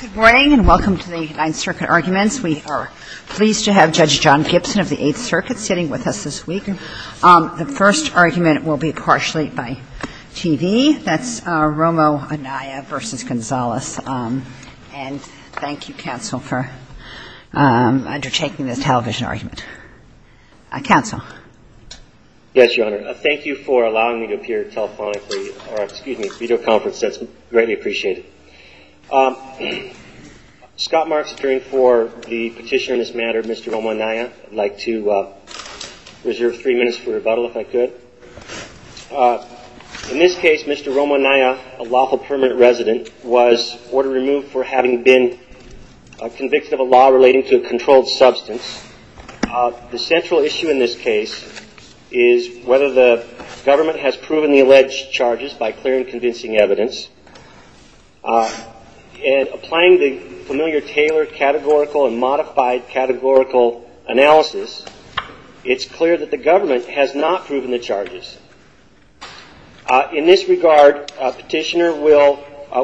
Good morning and welcome to the Ninth Circuit Arguments. We are pleased to have Judge John Gibson of the Eighth Circuit sitting with us this week. The first argument will be partially by TV. That's Romo-Anaya v. Gonzales. And thank you, counsel, for undertaking this television argument. Counsel. Yes, Your Honor. Thank you for allowing me to appear telephonically, or excuse me, video conference. That's greatly appreciated. Scott Marks, appearing for the petition on this matter, Mr. Romo-Anaya. I'd like to reserve three minutes for rebuttal, if I could. In this case, Mr. Romo-Anaya, a lawful permanent resident, was order removed for having been convicted of a law relating to a controlled substance. The central issue in this case is whether the government has proven the alleged charges by clear and convincing evidence. And applying the familiar Taylor categorical and modified categorical analysis, it's clear that the government has not proven the charges. In this regard, a petitioner will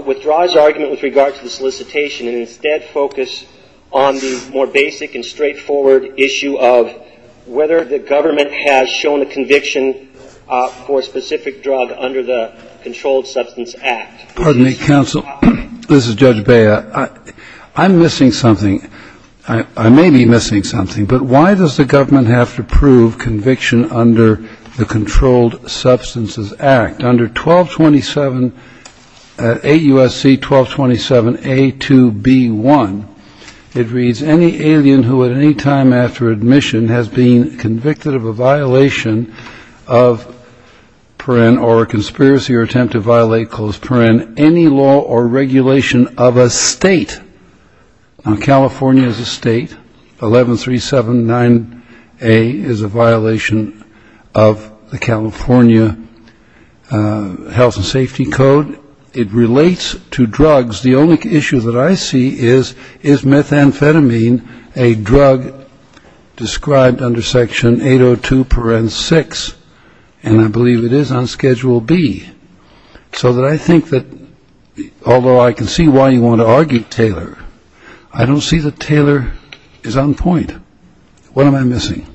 withdraw his argument with regard to the solicitation and instead focus on the more basic and straightforward issue of whether the government has shown a conviction for a specific drug under the Controlled Substances Act. Pardon me, counsel. This is Judge Bea. I'm missing something. I may be missing something. But why does the government have to prove conviction under the Controlled Substances Act? Under 1227, 8 U.S.C. 1227 A.2.B.1, it reads, any alien who at any time after admission has been convicted of a violation of, or a conspiracy or attempt to violate, any law or regulation of a state. Now, California is a state. 11379A is a violation of the California Health and Safety Code. It relates to drugs. The only issue that I see is, is methamphetamine a drug described under Section 802 paren 6? And I believe it is on Schedule B. So that I think that, although I can see why you want to argue Taylor, I don't see that Taylor is on point. What am I missing?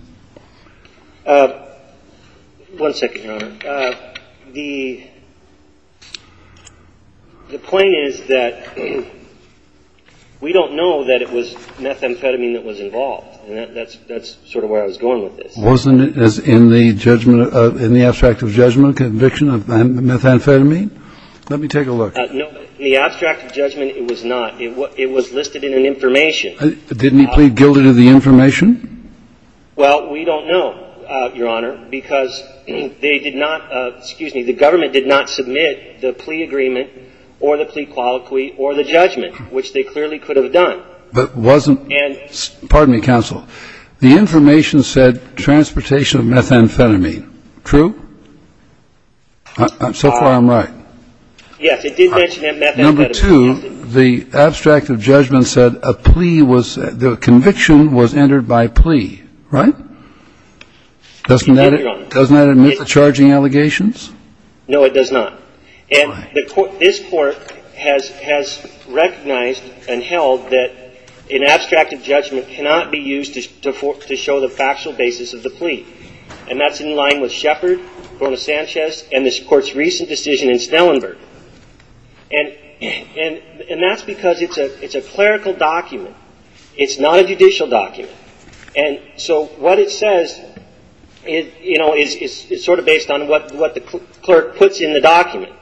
One second, Your Honor. The point is that we don't know that it was methamphetamine that was involved. And that's sort of where I was going with this. Wasn't it in the judgment of, in the abstract of judgment conviction of methamphetamine? Let me take a look. No. In the abstract of judgment, it was not. It was listed in an information. Didn't he plead guilty to the information? Well, we don't know, Your Honor, because they did not, excuse me, the government did not submit the plea agreement or the plea colloquy or the judgment, which they clearly could have done. But wasn't, pardon me, counsel, the information said transportation of methamphetamine. True? So far, I'm right. Yes, it did mention methamphetamine. Number two, the abstract of judgment said a plea was, the conviction was entered by plea. Right? Doesn't that admit the charging allegations? No, it does not. Why? And this Court has recognized and held that an abstract of judgment cannot be used to show the factual basis of the plea. And that's in line with Shepard, Bruno Sanchez, and this Court's recent decision in Stellenberg. And that's because it's a clerical document. It's not a judicial document. And so what it says, you know, is sort of based on what the clerk puts in the document,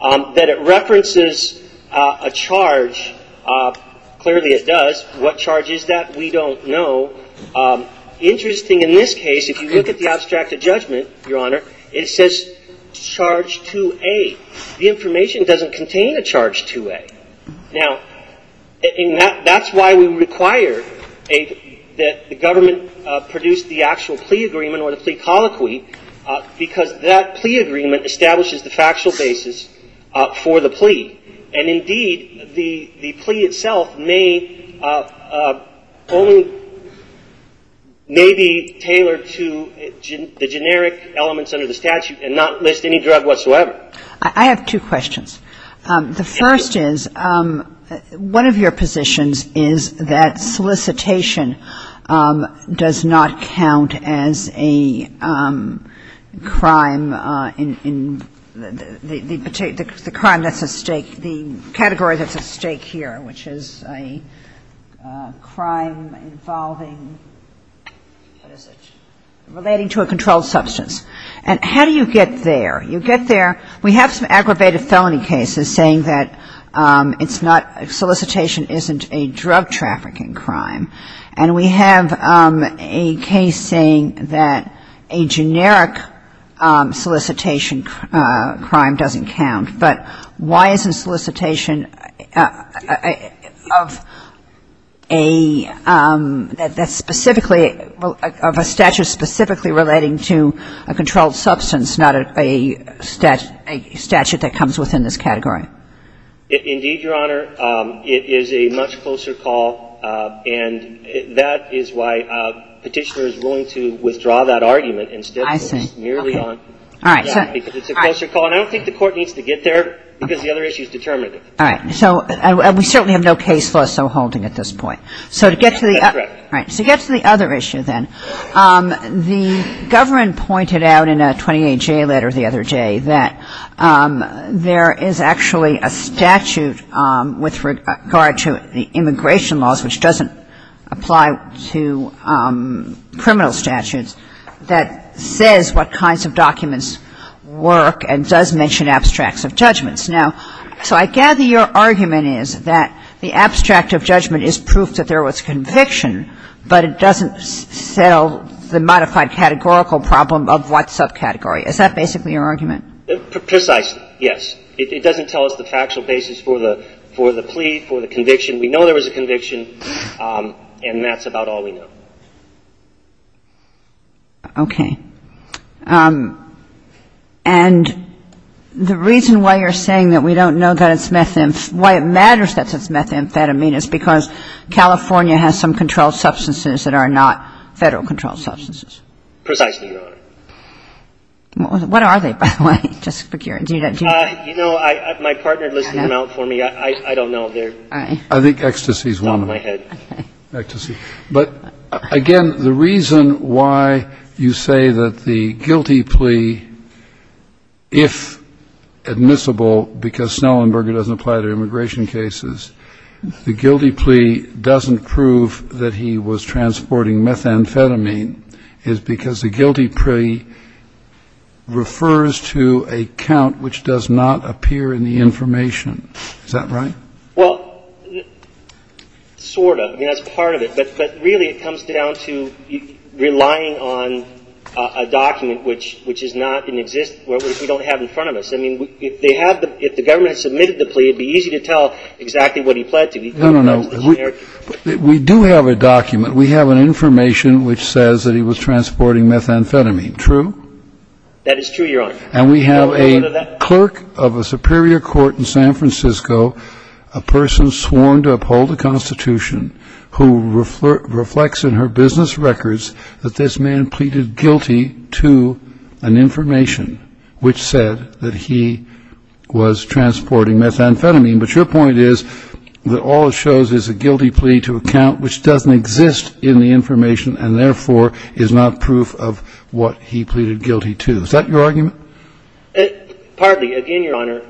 that it references a charge. Clearly, it does. What charge is that? We don't know. Interesting, in this case, if you look at the abstract of judgment, Your Honor, it says charge 2A. The information doesn't contain a charge 2A. Now, that's why we require that the government produce the actual plea agreement or the plea colloquy, because that plea agreement establishes the factual basis for the plea. And indeed, the plea itself may only be tailored to the generic elements under the statute and not list any drug whatsoever. I have two questions. The first is, one of your positions is that solicitation does not count as a crime in the crime that's at stake, the category that's at stake here, which is a crime involving, what is it, relating to a controlled substance. And how do you get there? You get there, we have some aggravated felony cases saying that it's not, solicitation isn't a drug trafficking crime. And we have a case saying that a generic solicitation crime doesn't count. But why isn't solicitation of a statute specifically relating to a controlled substance, not a statute that comes within this category? Indeed, Your Honor, it is a much closer call. And that is why Petitioner is willing to withdraw that argument. I see. All right. So we certainly have no case law so holding at this point. So to get to the other issue, then, the government pointed out in a 28J letter the other day that there is actually a statute with regard to the immigration laws, which doesn't apply to criminal statutes, that says what kinds of documents work and does mention abstracts of judgments. Now, so I gather your argument is that the abstract of judgment is proof that there was conviction, but it doesn't sell the modified categorical problem of what subcategory. Is that basically your argument? Precisely, yes. It doesn't tell us the factual basis for the plea, for the conviction. We know there was a conviction, and that's about all we know. Okay. And the reason why you're saying that we don't know that it's methamphetamine, why it matters that it's methamphetamine is because California has some controlled substances that are not Federal-controlled substances. Precisely, Your Honor. What are they, by the way? Justice Sotomayor, do you know? You know, my partner listed them out for me. I don't know. I think ecstasy is one of them. Ecstasy. But, again, the reason why you say that the guilty plea, if admissible because Snellenberger doesn't apply to immigration cases, the guilty plea doesn't prove that he was transporting methamphetamine is because the guilty plea refers to a count which does not appear in the information. Is that right? Well, sort of. I mean, that's part of it. But really it comes down to relying on a document which is not in existence, which we don't have in front of us. I mean, if they had the – if the government had submitted the plea, it would be easy to tell exactly what he pled to. No, no, no. We do have a document. We have an information which says that he was transporting methamphetamine. True? That is true, Your Honor. And we have a clerk of a superior court in San Francisco, a person sworn to uphold the Constitution, who reflects in her business records that this man pleaded guilty to an information which said that he was transporting methamphetamine. But your point is that all it shows is a guilty plea to a count which doesn't exist in the information and therefore is not proof of what he pleaded guilty to. Is that your argument? Partly. Again, Your Honor,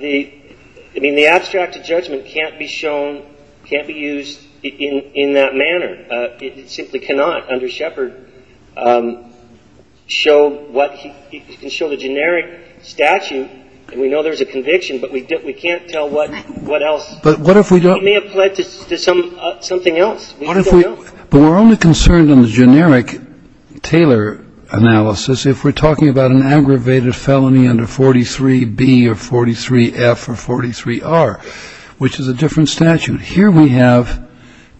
the – I mean, the abstract judgment can't be shown – can't be used in that manner. It simply cannot, under Shepard, show what – it can show the generic statute. And we know there's a conviction, but we can't tell what else. But what if we don't – He may have pled to something else. What if we – but we're only concerned in the generic Taylor analysis if we're talking about an aggravated felony under 43B or 43F or 43R, which is a different statute. Here we have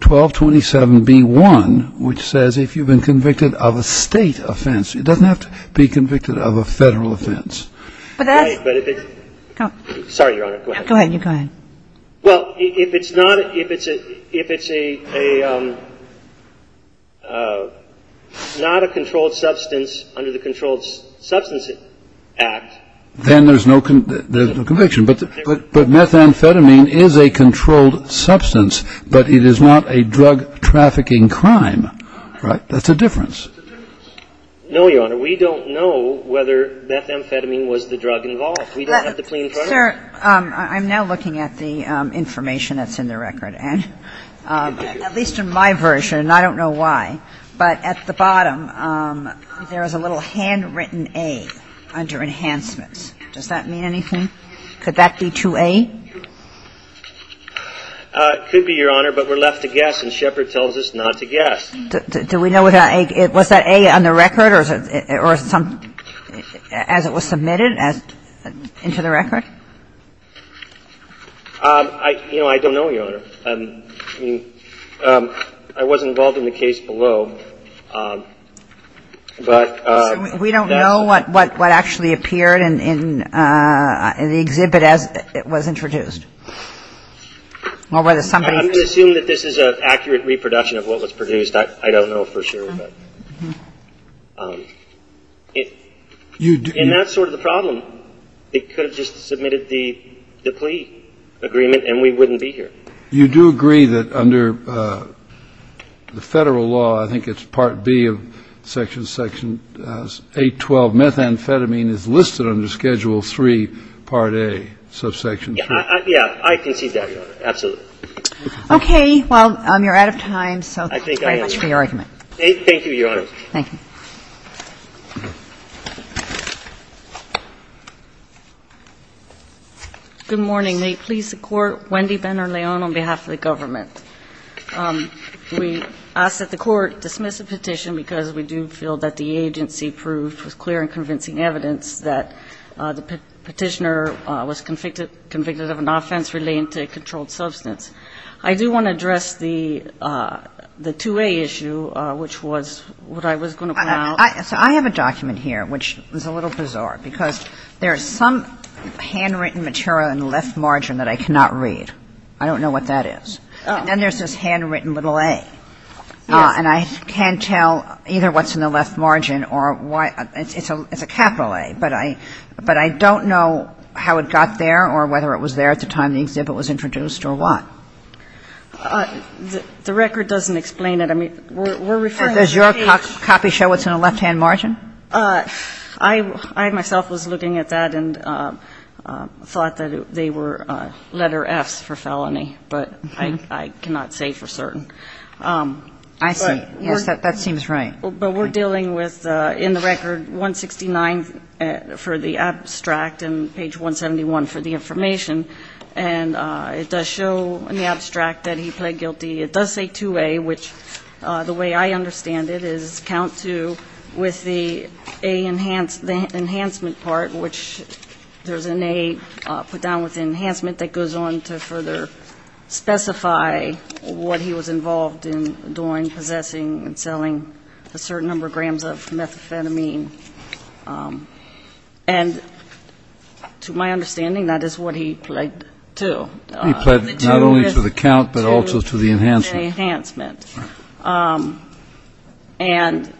1227B1, which says if you've been convicted of a state offense. It doesn't have to be convicted of a federal offense. But that's – Sorry, Your Honor. Go ahead. Go ahead. You go ahead. Well, if it's not – if it's a – if it's a – not a controlled substance under the Controlled Substances Act. Then there's no conviction. But methamphetamine is a controlled substance, but it is not a drug trafficking crime. Right? That's a difference. No, Your Honor. We don't know whether methamphetamine was the drug involved. We don't have the plain crime. Sir, I'm now looking at the information that's in the record. And at least in my version, and I don't know why, but at the bottom, there is a little handwritten A under enhancements. Does that mean anything? Could that be 2A? It could be, Your Honor, but we're left to guess, and Shepard tells us not to guess. Do we know what that A – was that A on the record or some – as it was submitted as – into the record? You know, I don't know, Your Honor. I mean, I was involved in the case below, but – So we don't know what actually appeared in the exhibit as it was introduced? Or whether somebody – I'm going to assume that this is an accurate reproduction of what was produced. I don't know for sure. And that's sort of the problem. It could have just submitted the plea agreement, and we wouldn't be here. You do agree that under the Federal law, I think it's Part B of Section 812, methamphetamine is listed under Schedule III, Part A, subsection 2? Yeah. I concede that, Your Honor. Absolutely. Okay. Well, you're out of time, so thank you very much for your argument. Thank you, Your Honor. Thank you. Good morning. May it please the Court. Wendy Ben-Erleon on behalf of the government. We ask that the Court dismiss the petition because we do feel that the agency proved with clear and convincing evidence that the Petitioner was convicted of an offense relating to a controlled substance. I do want to address the 2A issue, which was what I was going to point out. So I have a document here, which is a little bizarre, because there is some handwritten material in the left margin that I cannot read. I don't know what that is. Then there's this handwritten little A. Yes. And I can't tell either what's in the left margin or why. It's a capital A. But I don't know how it got there or whether it was there at the time the exhibit was introduced or what. The record doesn't explain it. I mean, we're referring to the page. Does your copy show what's in the left-hand margin? I myself was looking at that and thought that they were letter Fs for felony, but I cannot say for certain. I see. Yes, that seems right. But we're dealing with, in the record, 169 for the abstract and page 171 for the information. And it does show in the abstract that he pled guilty. It does say 2A, which the way I understand it is count to with the A enhancement part, which there's an A put down with enhancement that goes on to further specify what he was involved in during possessing and selling a certain number of grams of methamphetamine. And to my understanding, that is what he pled to. He pled not only to the count but also to the enhancement. To the enhancement. And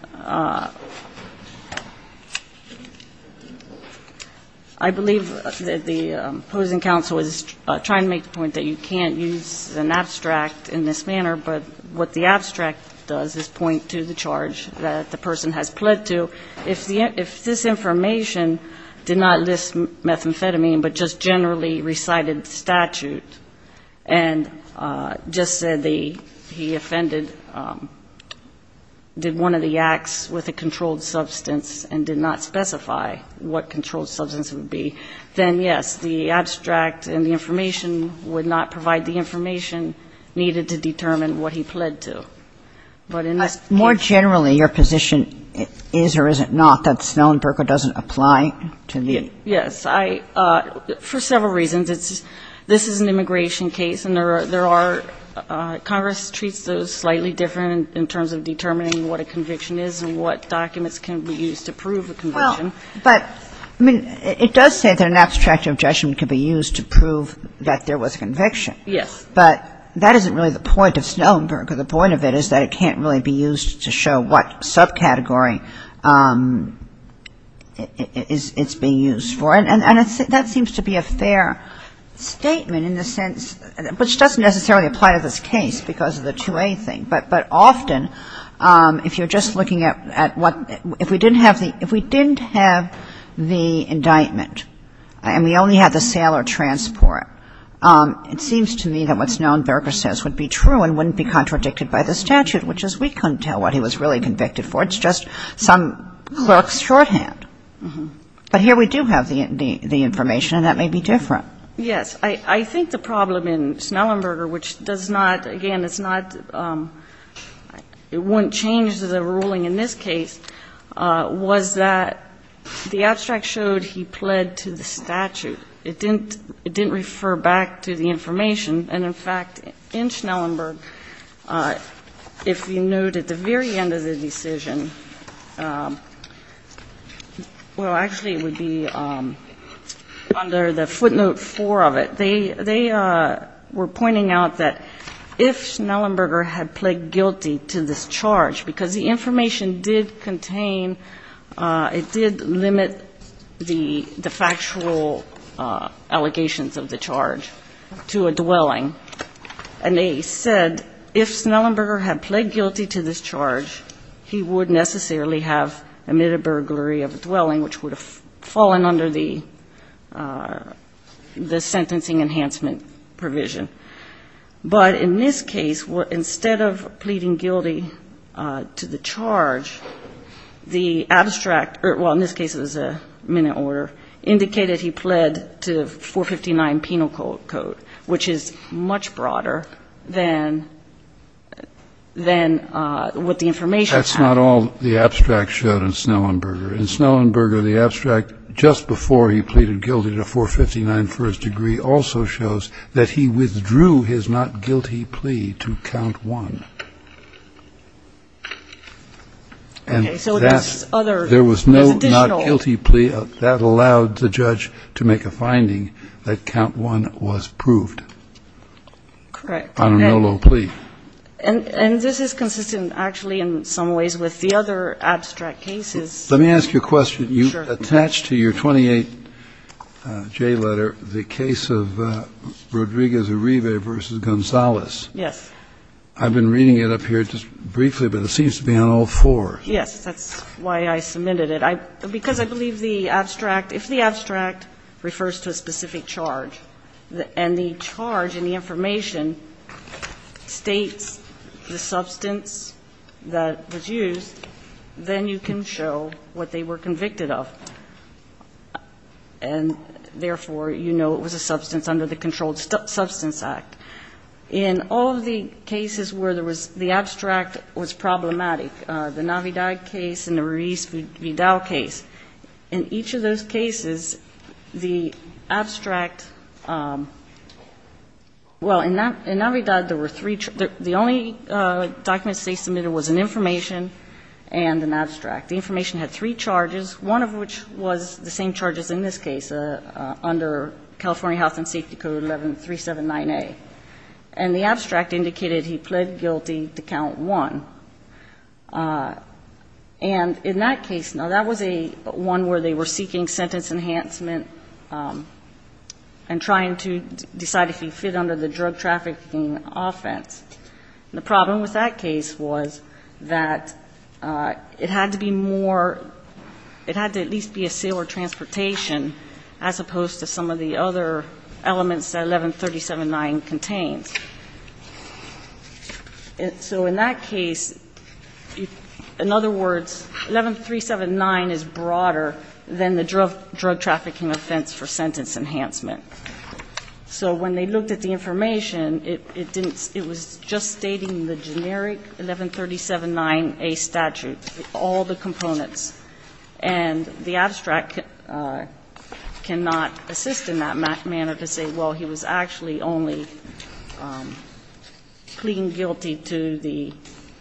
I believe that the opposing counsel is trying to make the point that you can't use an abstract in this manner, but what the abstract does is point to the charge that the person has pled to. If this information did not list methamphetamine but just generally recited statute and just said that he offended, did one of the acts with a controlled substance and did not specify what controlled substance it would be, then, yes, the abstract and the information would not provide the information needed to determine what he pled to. But in this case ---- But more generally, your position is or is it not that Snellenberger doesn't apply to the ---- Yes. For several reasons. This is an immigration case, and there are ---- Congress treats those slightly different in terms of determining what a conviction is and what documents can be used to prove a conviction. Well, but, I mean, it does say that an abstract objection can be used to prove that there was a conviction. Yes. But that isn't really the point of Snellenberger. The point of it is that it can't really be used to show what subcategory it's being used for. And that seems to be a fair statement in the sense ---- which doesn't necessarily apply to this case because of the 2A thing. But often, if you're just looking at what ---- if we didn't have the indictment and we only had the sale or transport, it seems to me that what Snellenberger says would be true and wouldn't be contradicted by the statute, which is we couldn't tell what he was really convicted for. It's just some clerk's shorthand. But here we do have the information, and that may be different. Yes. I think the problem in Snellenberger, which does not ---- again, it's not ---- it wouldn't change the ruling in this case, was that the abstract showed he pled to the statute. It didn't refer back to the information. And, in fact, in Snellenberger, if you note at the very end of the decision ---- well, actually, it would be under the footnote 4 of it. They were pointing out that if Snellenberger had pled guilty to this charge, because the information did contain ---- it did limit the factual allegations of the charge to a dwelling. And they said if Snellenberger had pled guilty to this charge, he would necessarily have admitted burglary of a dwelling, which would have fallen under the sentencing enhancement provision. But in this case, instead of pleading guilty to the charge, the abstract ---- well, in this case, it was a minute order ---- indicated he pled to 459 penal code, which is much broader than what the information ---- That's not all the abstract showed in Snellenberger. In Snellenberger, the abstract just before he pleaded guilty to 459 for his degree also shows that he withdrew his not guilty plea to count one. And that's ---- Okay. So there's other ---- There was no not guilty plea. That allowed the judge to make a finding that count one was proved. Correct. On a no low plea. And this is consistent actually in some ways with the other abstract cases. Let me ask you a question. Sure. You attach to your 28J letter the case of Rodriguez Uribe v. Gonzalez. Yes. I've been reading it up here just briefly, but it seems to be on all four. Yes. That's why I submitted it. Because I believe the abstract ---- if the abstract refers to a specific charge and the charge in the information states the substance that was used, then you can show what they were convicted of. And therefore, you know it was a substance under the Controlled Substance Act. In all of the cases where there was the abstract was problematic, the Navidad case and the Ruiz-Vidal case, in each of those cases, the abstract ---- well, in Navidad, there were three ---- the only documents they submitted was an information and an abstract. The information had three charges, one of which was the same charges in this case under California Health and Safety Code 11379A. And the abstract indicated he pled guilty to count one. And in that case, now, that was a one where they were seeking sentence enhancement and trying to decide if he fit under the drug trafficking offense. And the problem with that case was that it had to be more ---- it had to at least be a broad case as opposed to some of the other elements that 11379 contains. So in that case, in other words, 11379 is broader than the drug trafficking offense for sentence enhancement. So when they looked at the information, it didn't ---- it was just stating the generic 11379A statute, all the components. And the abstract cannot assist in that manner to say, well, he was actually only pleading guilty to the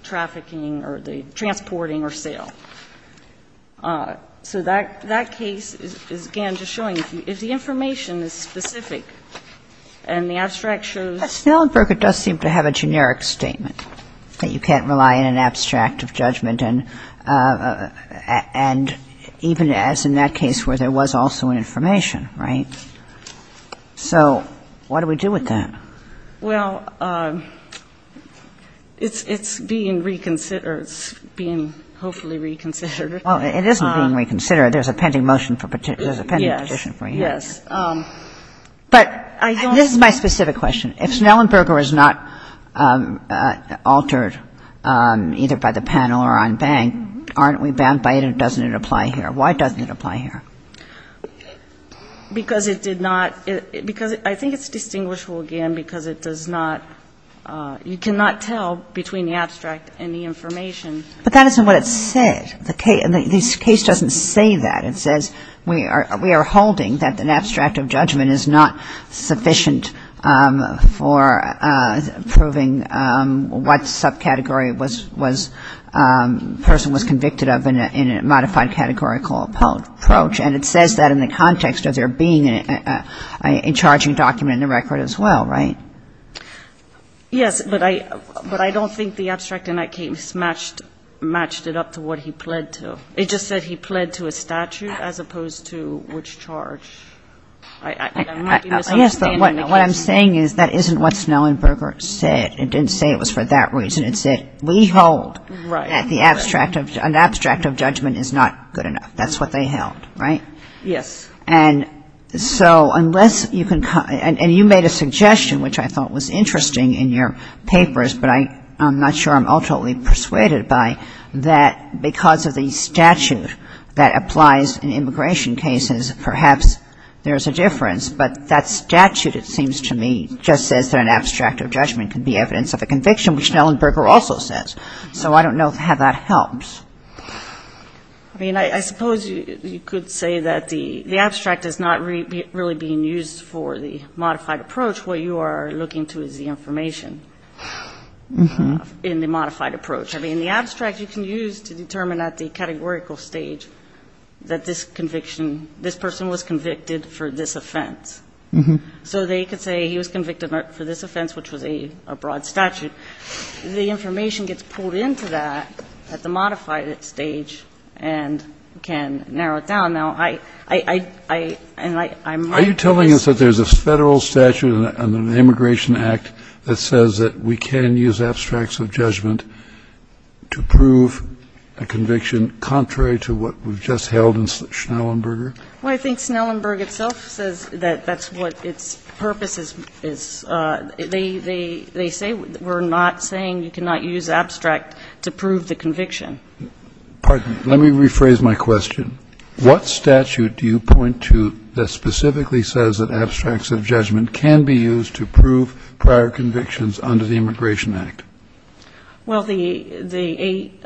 trafficking or the transporting or sale. So that case is, again, just showing if the information is specific and the abstract shows ---- But Snellenberger does seem to have a generic statement, that you can't rely on an abstract of judgment and even as in that case where there was also information, right? So what do we do with that? Well, it's being reconsidered. It's being hopefully reconsidered. Well, it isn't being reconsidered. There's a pending motion for ---- Yes. Yes. But this is my specific question. If Snellenberger is not altered either by the panel or en banc, aren't we bound by it or doesn't it apply here? Why doesn't it apply here? Because it did not ---- because I think it's distinguishable, again, because it does not ---- you cannot tell between the abstract and the information. But that isn't what it said. The case doesn't say that. It says we are holding that an abstract of judgment is not sufficient for proving what subcategory was ---- person was convicted of in a modified categorical approach. And it says that in the context of there being an in-charging document in the record as well, right? Yes. But I don't think the abstract in that case matched it up to what he pled to. It just said he pled to a statute as opposed to which charge. I might be misunderstanding the case. Yes, but what I'm saying is that isn't what Snellenberger said. It didn't say it was for that reason. It said we hold that the abstract of ---- an abstract of judgment is not good enough. That's what they held, right? Yes. And so unless you can ---- and you made a suggestion, which I thought was interesting in your papers, but I'm not sure I'm ultimately persuaded by, that because of the statute that applies in immigration cases, perhaps there's a difference. But that statute, it seems to me, just says that an abstract of judgment could be evidence of a conviction, which Snellenberger also says. So I don't know how that helps. I mean, I suppose you could say that the abstract is not really being used for the modified approach. What you are looking to is the information in the modified approach. I mean, the abstract you can use to determine at the categorical stage that this conviction, this person was convicted for this offense. So they could say he was convicted for this offense, which was a broad statute. The information gets pulled into that at the modified stage and can narrow it down. Now, I ---- So you're telling us that there's a Federal statute under the Immigration Act that says that we can use abstracts of judgment to prove a conviction contrary to what we've just held in Snellenberger? Well, I think Snellenberger itself says that that's what its purpose is. They say we're not saying you cannot use abstract to prove the conviction. Pardon me. Let me rephrase my question. What statute do you point to that specifically says that abstracts of judgment can be used to prove prior convictions under the Immigration Act? Well, the 8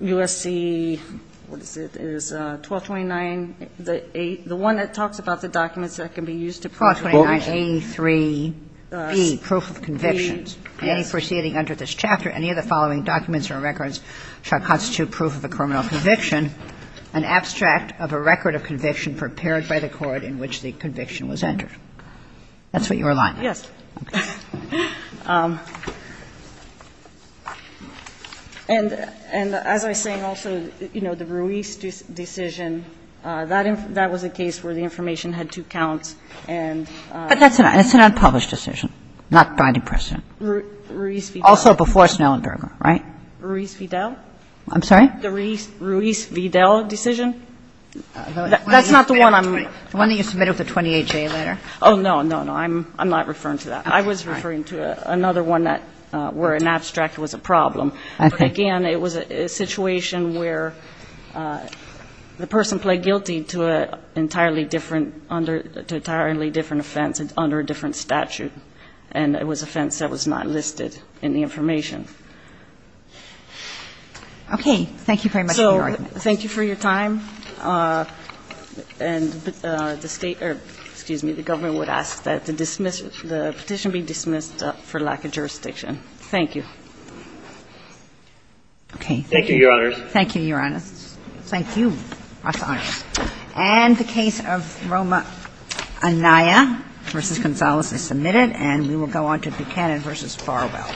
U.S.C. What is it? It is 1229, the 8, the one that talks about the documents that can be used to prove a conviction. 1229A3B, proof of convictions. Any proceeding under this chapter, any of the following documents or records shall constitute proof of a criminal conviction, an abstract of a record of conviction prepared by the court in which the conviction was entered. That's what you're allying with. Yes. And as I was saying also, you know, the Ruiz decision, that was a case where the information had two counts and ---- But that's an unpublished decision, not by the precedent. Ruiz v. Duval. Also before Snellenberger, right? Ruiz v. Duval. I'm sorry? The Ruiz v. Duval decision. That's not the one I'm ---- The one that you submitted with the 28J later. Oh, no, no, no. I'm not referring to that. I was referring to another one that where an abstract was a problem. But again, it was a situation where the person pled guilty to an entirely different under ---- to an entirely different offense under a different statute, and it was an offense that was not listed in the information. Okay. Thank you very much for your argument. So thank you for your time. And the State or, excuse me, the government would ask that the petition be dismissed for lack of jurisdiction. Thank you. Okay. Thank you, Your Honors. Thank you, Your Honors. Thank you. That's honest. And the case of Roma Anaya v. Gonzales is submitted, and we will go on to Buchanan v. Farwell.